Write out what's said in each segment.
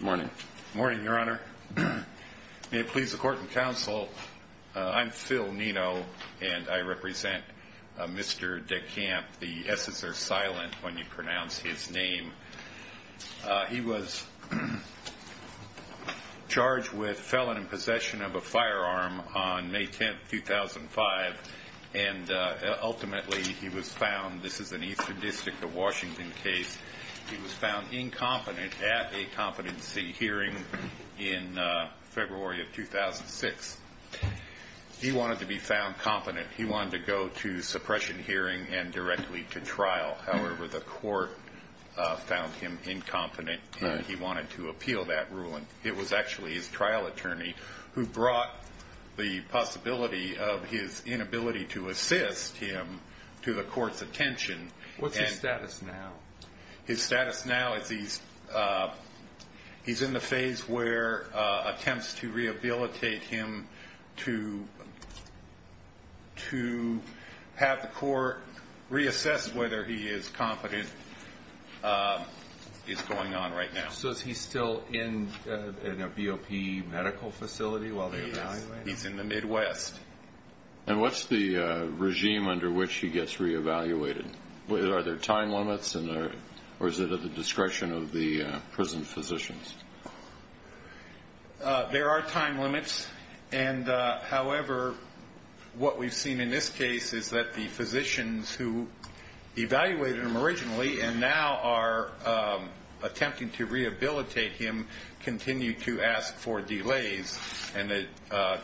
Morning. Morning, Your Honor. May it please the Court and Counsel, I'm Phil Nino, and I represent Mr. DesCamps, the S's are silent when you pronounce his name. He was charged with felon in possession of a firearm on May 10, 2005, and ultimately he was found, this at a competency hearing in February of 2006. He wanted to be found competent. He wanted to go to suppression hearing and directly to trial. However, the court found him incompetent and he wanted to appeal that ruling. It was actually his trial attorney who brought the possibility of his inability to assist him to the court's attention. What's his status now? His status now is he's in the phase where attempts to rehabilitate him to have the court reassess whether he is competent is going on right now. So is he still in a BOP medical facility while they evaluate him? He's in the Midwest. And what's the regime under which he gets reevaluated? Are there time limits or is it at the discretion of the prison physicians? There are time limits. However, what we've seen in this case is that the physicians who evaluated him originally and now are attempting to rehabilitate him continue to ask for delays and the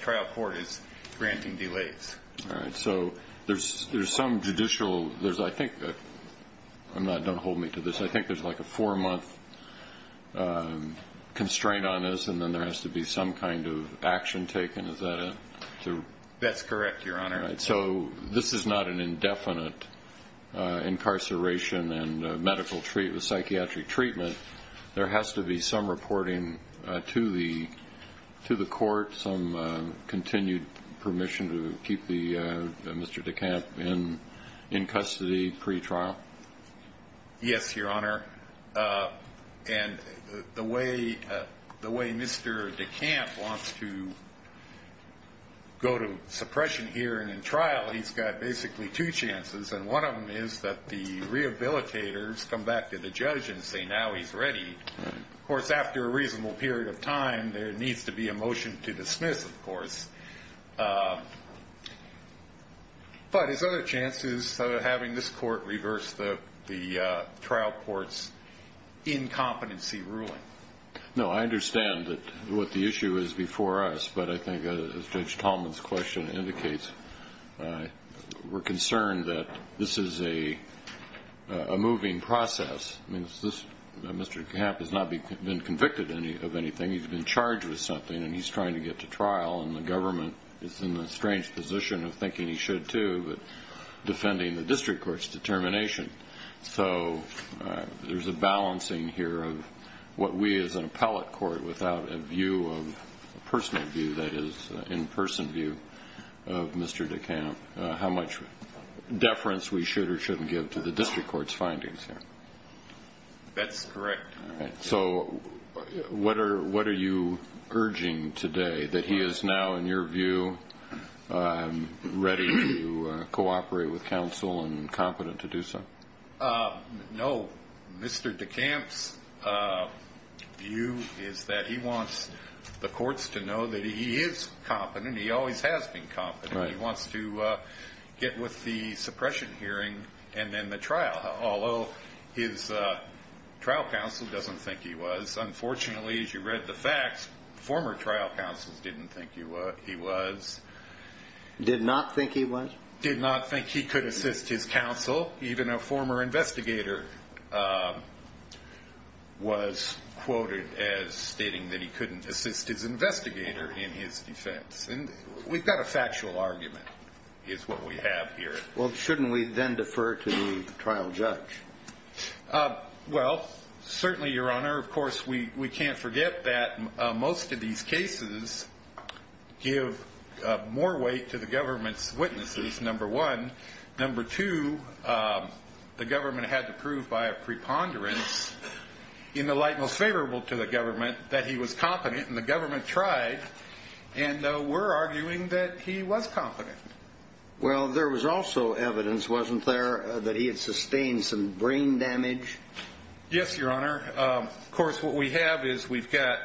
trial court is granting delays. So there's some judicial, I think, don't hold me to this, I think there's like a four-month constraint on this and then there has to be some kind of action taken, is that it? That's correct, Your Honor. So this is not an indefinite incarceration and psychiatric treatment. There has to be some reporting to the court, some continued permission to keep Mr. DeCamp in custody pre-trial? Yes, Your Honor. And the way Mr. DeCamp wants to go to suppression here and in trial, he's got basically two chances and one of them is that the rehabilitators come back to the Of course, after a reasonable period of time, there needs to be a motion to dismiss, of course. But his other chance is having this court reverse the trial court's incompetency ruling. No, I understand what the issue is before us, but I think, as Judge Tallman's question indicates, we're concerned that this is a moving process. I mean, Mr. DeCamp has not been convicted of anything. He's been charged with something and he's trying to get to trial and the government is in the strange position of thinking he should, too, but defending the district court's determination. So there's a balancing here of what we as an appellate court without a view, a personal view, that is, an in-person view of Mr. DeCamp, how much deference we should or shouldn't give to the district court's findings here. That's correct. All right. So what are you urging today, that he is now, in your view, ready to cooperate with counsel and competent to do so? No. Mr. DeCamp's view is that he wants the courts to know that he is competent. He always has been competent. He wants to get with the suppression hearing and then the trial, although his trial counsel doesn't think he was. Unfortunately, as you read the facts, former trial counsels didn't think he was. Did not think he was? Did not think he could assist his counsel. Even a former investigator was quoted as stating that he couldn't assist his investigator in his defense. And we've got a factual argument, is what we have here. Well, shouldn't we then defer to the trial judge? Well, certainly, Your Honor. Of course, we can't forget that most of these cases give more weight to the government's witnesses, number one. Number two, the government had to prove by a preponderance, in the light most favorable to the government, that he was competent, and the government tried, and we're arguing that he was competent. Well, there was also evidence, wasn't there, that he had sustained some brain damage? Yes, Your Honor. Of course, what we have is we've got,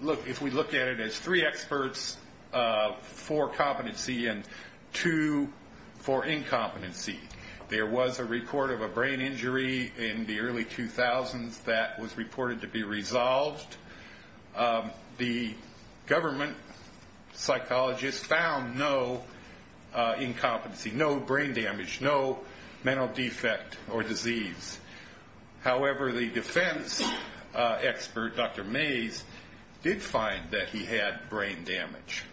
look, if we look at it as three experts for competency and two for incompetency. There was a report of a brain injury in the incompetency, no brain damage, no mental defect or disease. However, the defense expert, Dr. Mays, did find that he had brain damage.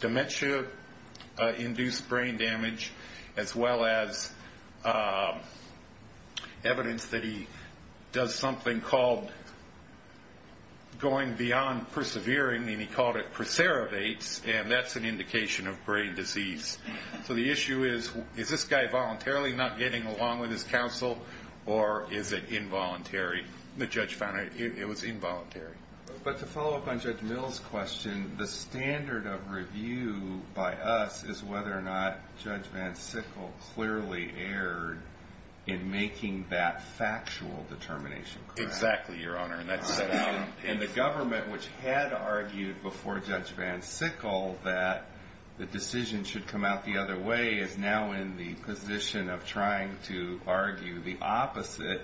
Dementia-induced brain damage, as well as evidence that he does something called going beyond persevering, and he called it preservates, and that's an indication of brain disease. So the issue is, is this guy voluntarily not getting along with his counsel, or is it involuntary? The judge found it was involuntary. But to follow up on Judge Mill's question, the standard of review by us is whether or not Judge Van Sickle clearly erred in making that factual determination correct. Exactly, Your Honor, and that's set out in the government, which had argued before Judge Van Sickle that the decision should come out the other way is now in the position of trying to argue the opposite,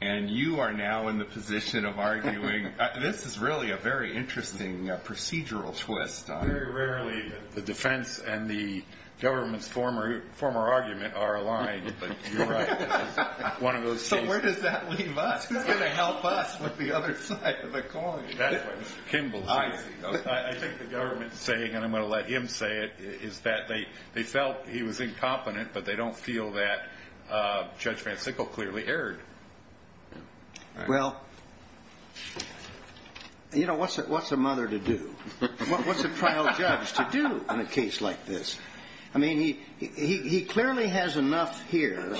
and you are now in the position of arguing, this is really a very interesting procedural twist. Very rarely the defense and the government's former argument are aligned, but you're right. It's one of those cases. So where does that leave us? Who's going to help us with the other side of the coin? I think the government's saying, and I'm going to let him say it, is that they felt he was incompetent, but they don't feel that Judge Van Sickle clearly erred. Well, you know, what's a mother to do? What's a trial judge to do in a case like this? I mean, he clearly has enough here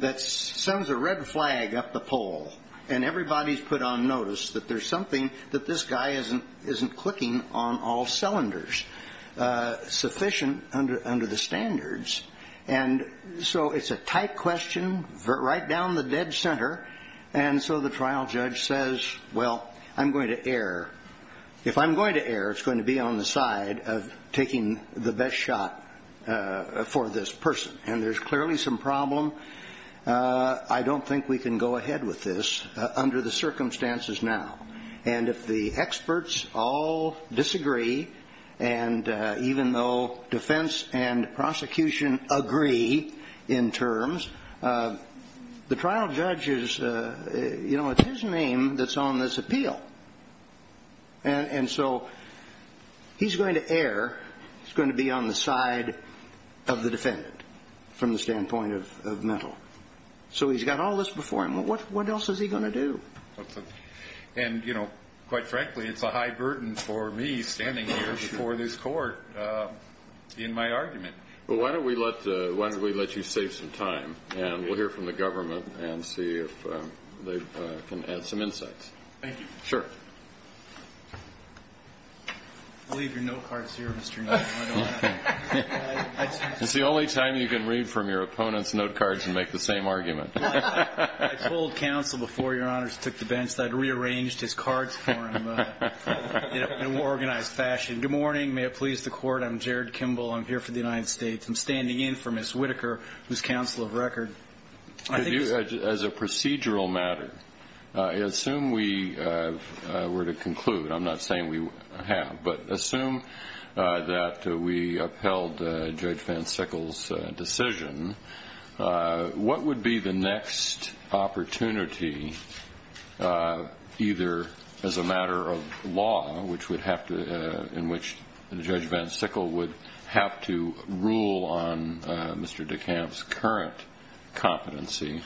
that sends a red flag up the pole, and everybody's put on that this guy isn't clicking on all cylinders, sufficient under the standards. And so it's a tight question right down the dead center, and so the trial judge says, well, I'm going to err. If I'm going to err, it's going to be on the side of taking the best shot for this person, and there's clearly some problem. I don't think we can go ahead with this under the circumstances now. And if the experts all disagree, and even though defense and prosecution agree in terms, the trial judge is, you know, it's his name that's on this appeal. And so he's going to err. He's going to be on the side of the defendant from the standpoint of mental. So he's got all this before him. What else is he going to do? And, you know, quite frankly, it's a high burden for me standing here before this court in my argument. Well, why don't we let you save some time, and we'll hear from the government and see if they can add some insights. Thank you. Sure. I'll leave your note cards here, Mr. Nelson. It's the only time you can read from your opponent's note cards and make the same argument. I told counsel before Your Honors took the bench that I'd rearranged his cards for him in an organized fashion. Good morning. May it please the Court. I'm Jared Kimball. I'm here for the United States. I'm standing in for Ms. Whitaker, who's counsel of record. As a procedural matter, assume we were to conclude. I'm not saying we have. But assume that we upheld Judge Van Sickle's decision. What would be the next opportunity, either as a matter of law, in which Judge Van Sickle would have to rule on Mr. DeKalb's current competency,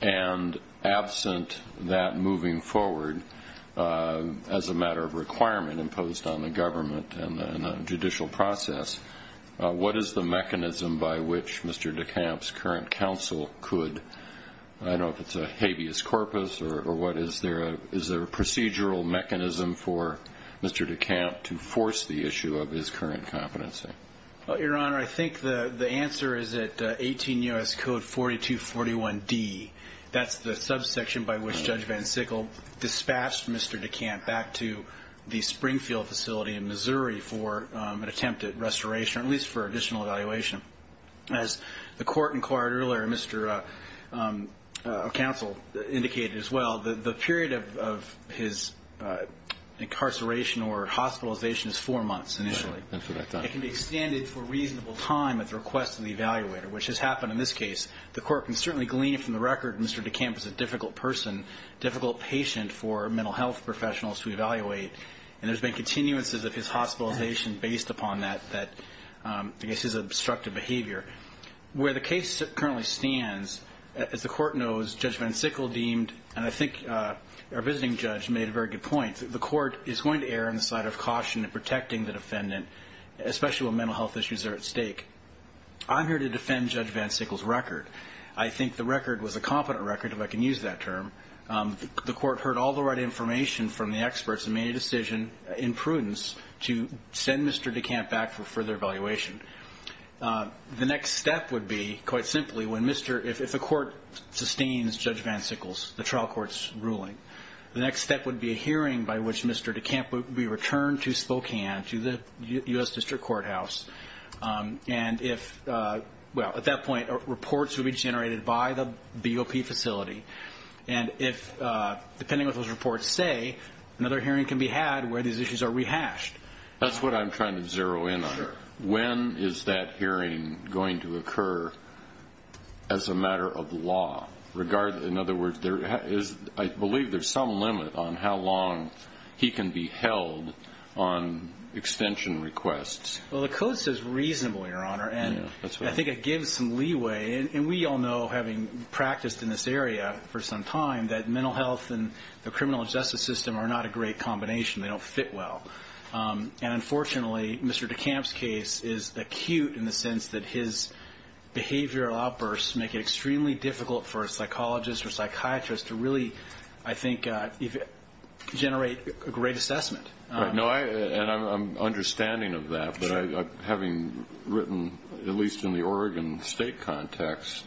and absent that moving forward as a matter of requirement imposed on the government and the judicial process, what is the mechanism by which Mr. DeKalb's current counsel could, I don't know if it's a habeas corpus or what, is there a procedural mechanism for Mr. DeKalb to force the issue of his current competency? Well, Your Honor, I think the answer is that 18 U.S. Code 4241D, that's the subsection by which Judge Van Sickle dispatched Mr. DeKalb back to the Springfield facility in Missouri for an attempt at restoration, at least for additional evaluation. As the Court inquired earlier, Mr. Counsel indicated as well, the period of his incarceration or hospitalization is four months initially. It can be extended for a reasonable time at the request of the evaluator, which has happened in this case. The Court can certainly glean from the record Mr. DeKalb is a difficult person, difficult patient for mental health professionals to evaluate, and there's been continuances of his hospitalization based upon that, I guess his obstructive behavior. Where the case currently stands, as the Court knows, Judge Van Sickle deemed, and I think our visiting judge made a very good point, the Court is going to err on the side of caution in protecting the defendant, especially when mental health issues are at stake. I'm here to defend Judge Van Sickle's record. I think the record was a competent record, if I can use that term. The Court heard all the right information from the experts and made a decision in prudence to send Mr. DeKalb back for further evaluation. The next step would be, quite simply, if the Court sustains Judge Van Sickle's, the trial court's ruling, the next step would be a hearing by which Mr. DeKalb would be returned to Spokane, to the U.S. District Courthouse. And if, well, at that point, reports would be generated by the BOP facility, and if, depending on what those reports say, another hearing can be had where these issues are rehashed. That's what I'm trying to zero in on. When is that hearing going to occur as a matter of law? In other words, I believe there's some limit on how long he can be held on extension requests. Well, the Code says reasonable, Your Honor, and I think it gives some leeway. And we all know, having practiced in this area for some time, that mental health and the criminal justice system are not a great combination. They don't fit well. And unfortunately, Mr. DeKalb's case is acute in the sense that his behavioral outbursts make it extremely difficult for a psychologist or psychiatrist to really, I think, generate a great assessment. And I'm understanding of that, but having written, at least in the Oregon State context,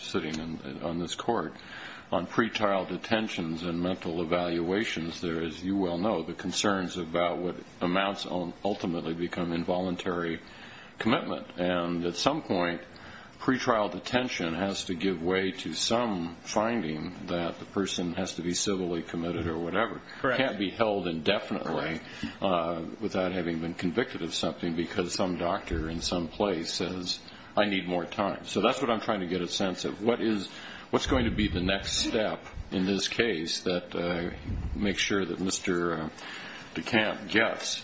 sitting on this Court on pretrial detentions and mental evaluations, there is, you well know, the concerns about what amounts ultimately become involuntary commitment. And at some point, pretrial detention has to give way to some finding that the person has to be civilly committed or whatever. It can't be held indefinitely without having been convicted of something because some doctor in some place says, I need more time. So that's what I'm trying to get a sense of. What's going to be the next step in this case that makes sure that Mr. DeKalb gets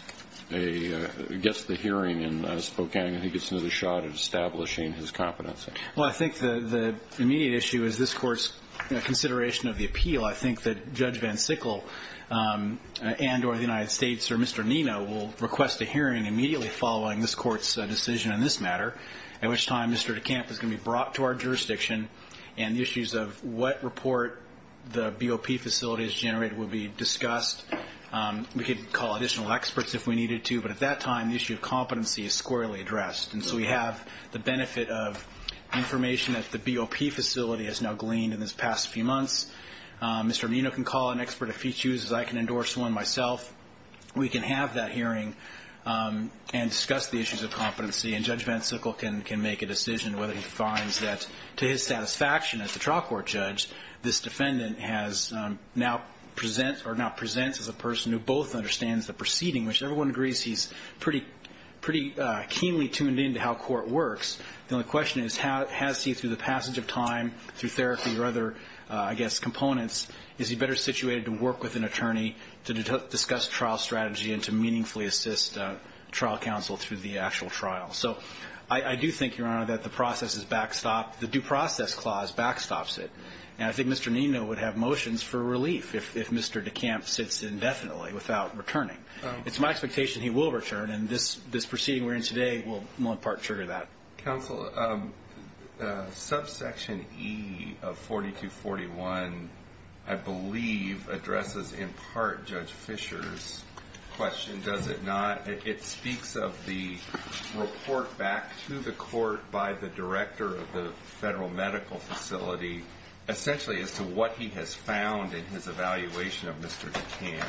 the hearing in Spokane? I think it's another shot at establishing his competency. Well, I think the immediate issue is this Court's consideration of the appeal. I think that Judge Van Sickle and or the United States or Mr. Nino will request a hearing immediately following this Court's decision on this matter, at which time Mr. DeKalb is going to be brought to our jurisdiction, and the issues of what report the BOP facility has generated will be discussed. We could call additional experts if we needed to, but at that time the issue of competency is squarely addressed. And so we have the benefit of information that the BOP facility has now gleaned in this past few months. Mr. Nino can call an expert if he chooses. I can endorse one myself. We can have that hearing and discuss the issues of competency, and Judge Van Sickle can make a decision whether he finds that, to his satisfaction, as a trial court judge, this defendant now presents or now presents as a person who both understands the proceeding, which everyone agrees he's pretty keenly tuned in to how court works. The only question is, has he, through the passage of time, through therapy or other, I guess, components, is he better situated to work with an attorney to discuss trial strategy and to meaningfully assist trial counsel through the actual trial? So I do think, Your Honor, that the process is backstopped. The Due Process Clause backstops it. And I think Mr. Nino would have motions for relief if Mr. DeCamp sits indefinitely without returning. It's my expectation he will return, and this proceeding we're in today will in part trigger that. Counsel, subsection E of 4241, I believe, addresses in part Judge Fisher's question, does it not? It speaks of the report back to the court by the director of the federal medical facility, essentially as to what he has found in his evaluation of Mr. DeCamp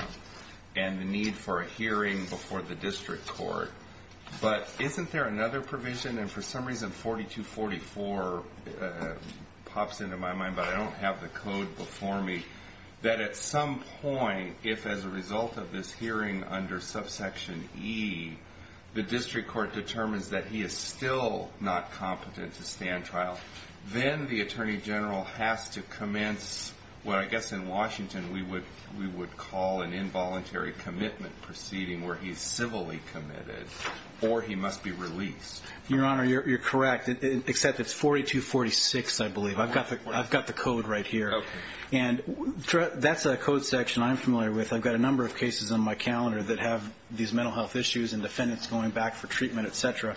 and the need for a hearing before the district court. But isn't there another provision? And for some reason 4244 pops into my mind, but I don't have the code before me, that at some point, if as a result of this hearing under subsection E, the district court determines that he is still not competent to stand trial, then the attorney general has to commence what I guess in Washington we would call an involuntary commitment proceeding where he is civilly committed or he must be released. Your Honor, you're correct, except it's 4246, I believe. I've got the code right here. And that's a code section I'm familiar with. I've got a number of cases on my calendar that have these mental health issues and defendants going back for treatment, et cetera.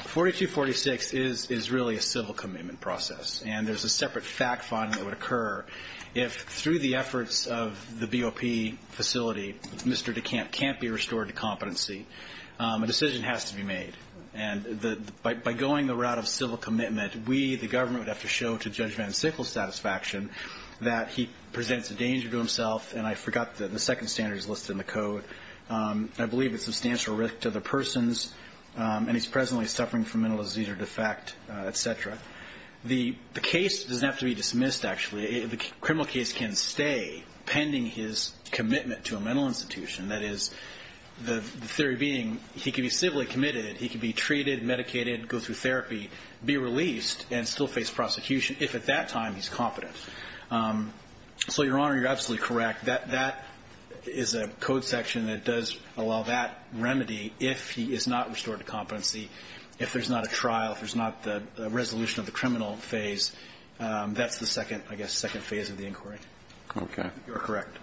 4246 is really a civil commitment process, and there's a separate fact finding that would occur if through the efforts of the BOP facility, Mr. DeCamp can't be restored to competency. A decision has to be made. And by going the route of civil commitment, we, the government, would have to show to Judge Van Sickle's satisfaction that he presents a danger to himself. And I forgot that the second standard is listed in the code. I believe it's substantial risk to the persons, and he's presently suffering from mental disease or defect, et cetera. The case doesn't have to be dismissed, actually. The criminal case can stay pending his commitment to a mental institution. That is, the theory being he can be civilly committed, he can be treated, medicated, go through therapy, be released, and still face prosecution if at that time he's competent. So, Your Honor, you're absolutely correct. That is a code section that does allow that remedy if he is not restored to competency, if there's not a trial, if there's not the resolution of the criminal phase. That's the second, I guess, second phase of the inquiry. Okay. You are correct.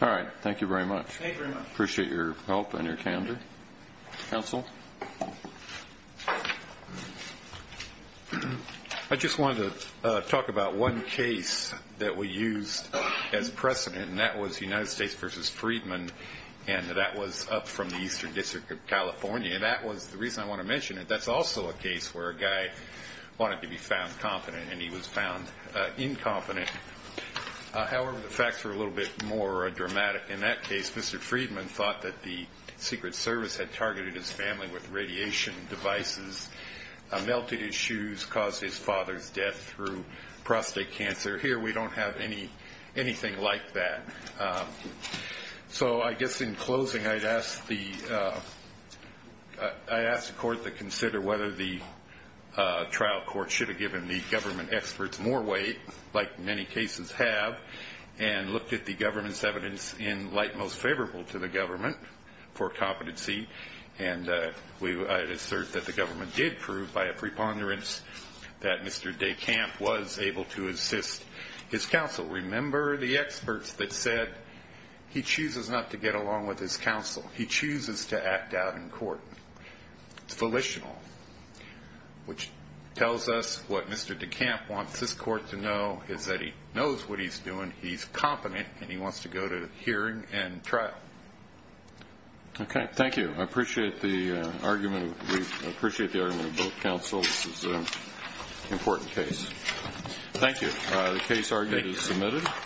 All right. Thank you very much. Thank you very much. Appreciate your help and your candor. Counsel? I just wanted to talk about one case that we used as precedent, and that was United States v. Friedman, and that was up from the Eastern District of California. And that was the reason I want to mention it. That's also a case where a guy wanted to be found competent, and he was found incompetent. However, the facts were a little bit more dramatic in that case. Mr. Friedman thought that the Secret Service had targeted his family with radiation devices, melted his shoes, caused his father's death through prostate cancer. Here, we don't have anything like that. So I guess in closing, I'd ask the court to consider whether the trial court should have given the government experts more weight, like many cases have, and looked at the government's evidence in light most favorable to the government for competency. And I'd assert that the government did prove by a preponderance that Mr. DeCamp was able to assist his counsel. Remember the experts that said he chooses not to get along with his counsel. It's volitional, which tells us what Mr. DeCamp wants his court to know is that he knows what he's doing, he's competent, and he wants to go to hearing and trial. Okay, thank you. I appreciate the argument. We appreciate the argument of both counsels. This is an important case. Thank you. The case argument is submitted.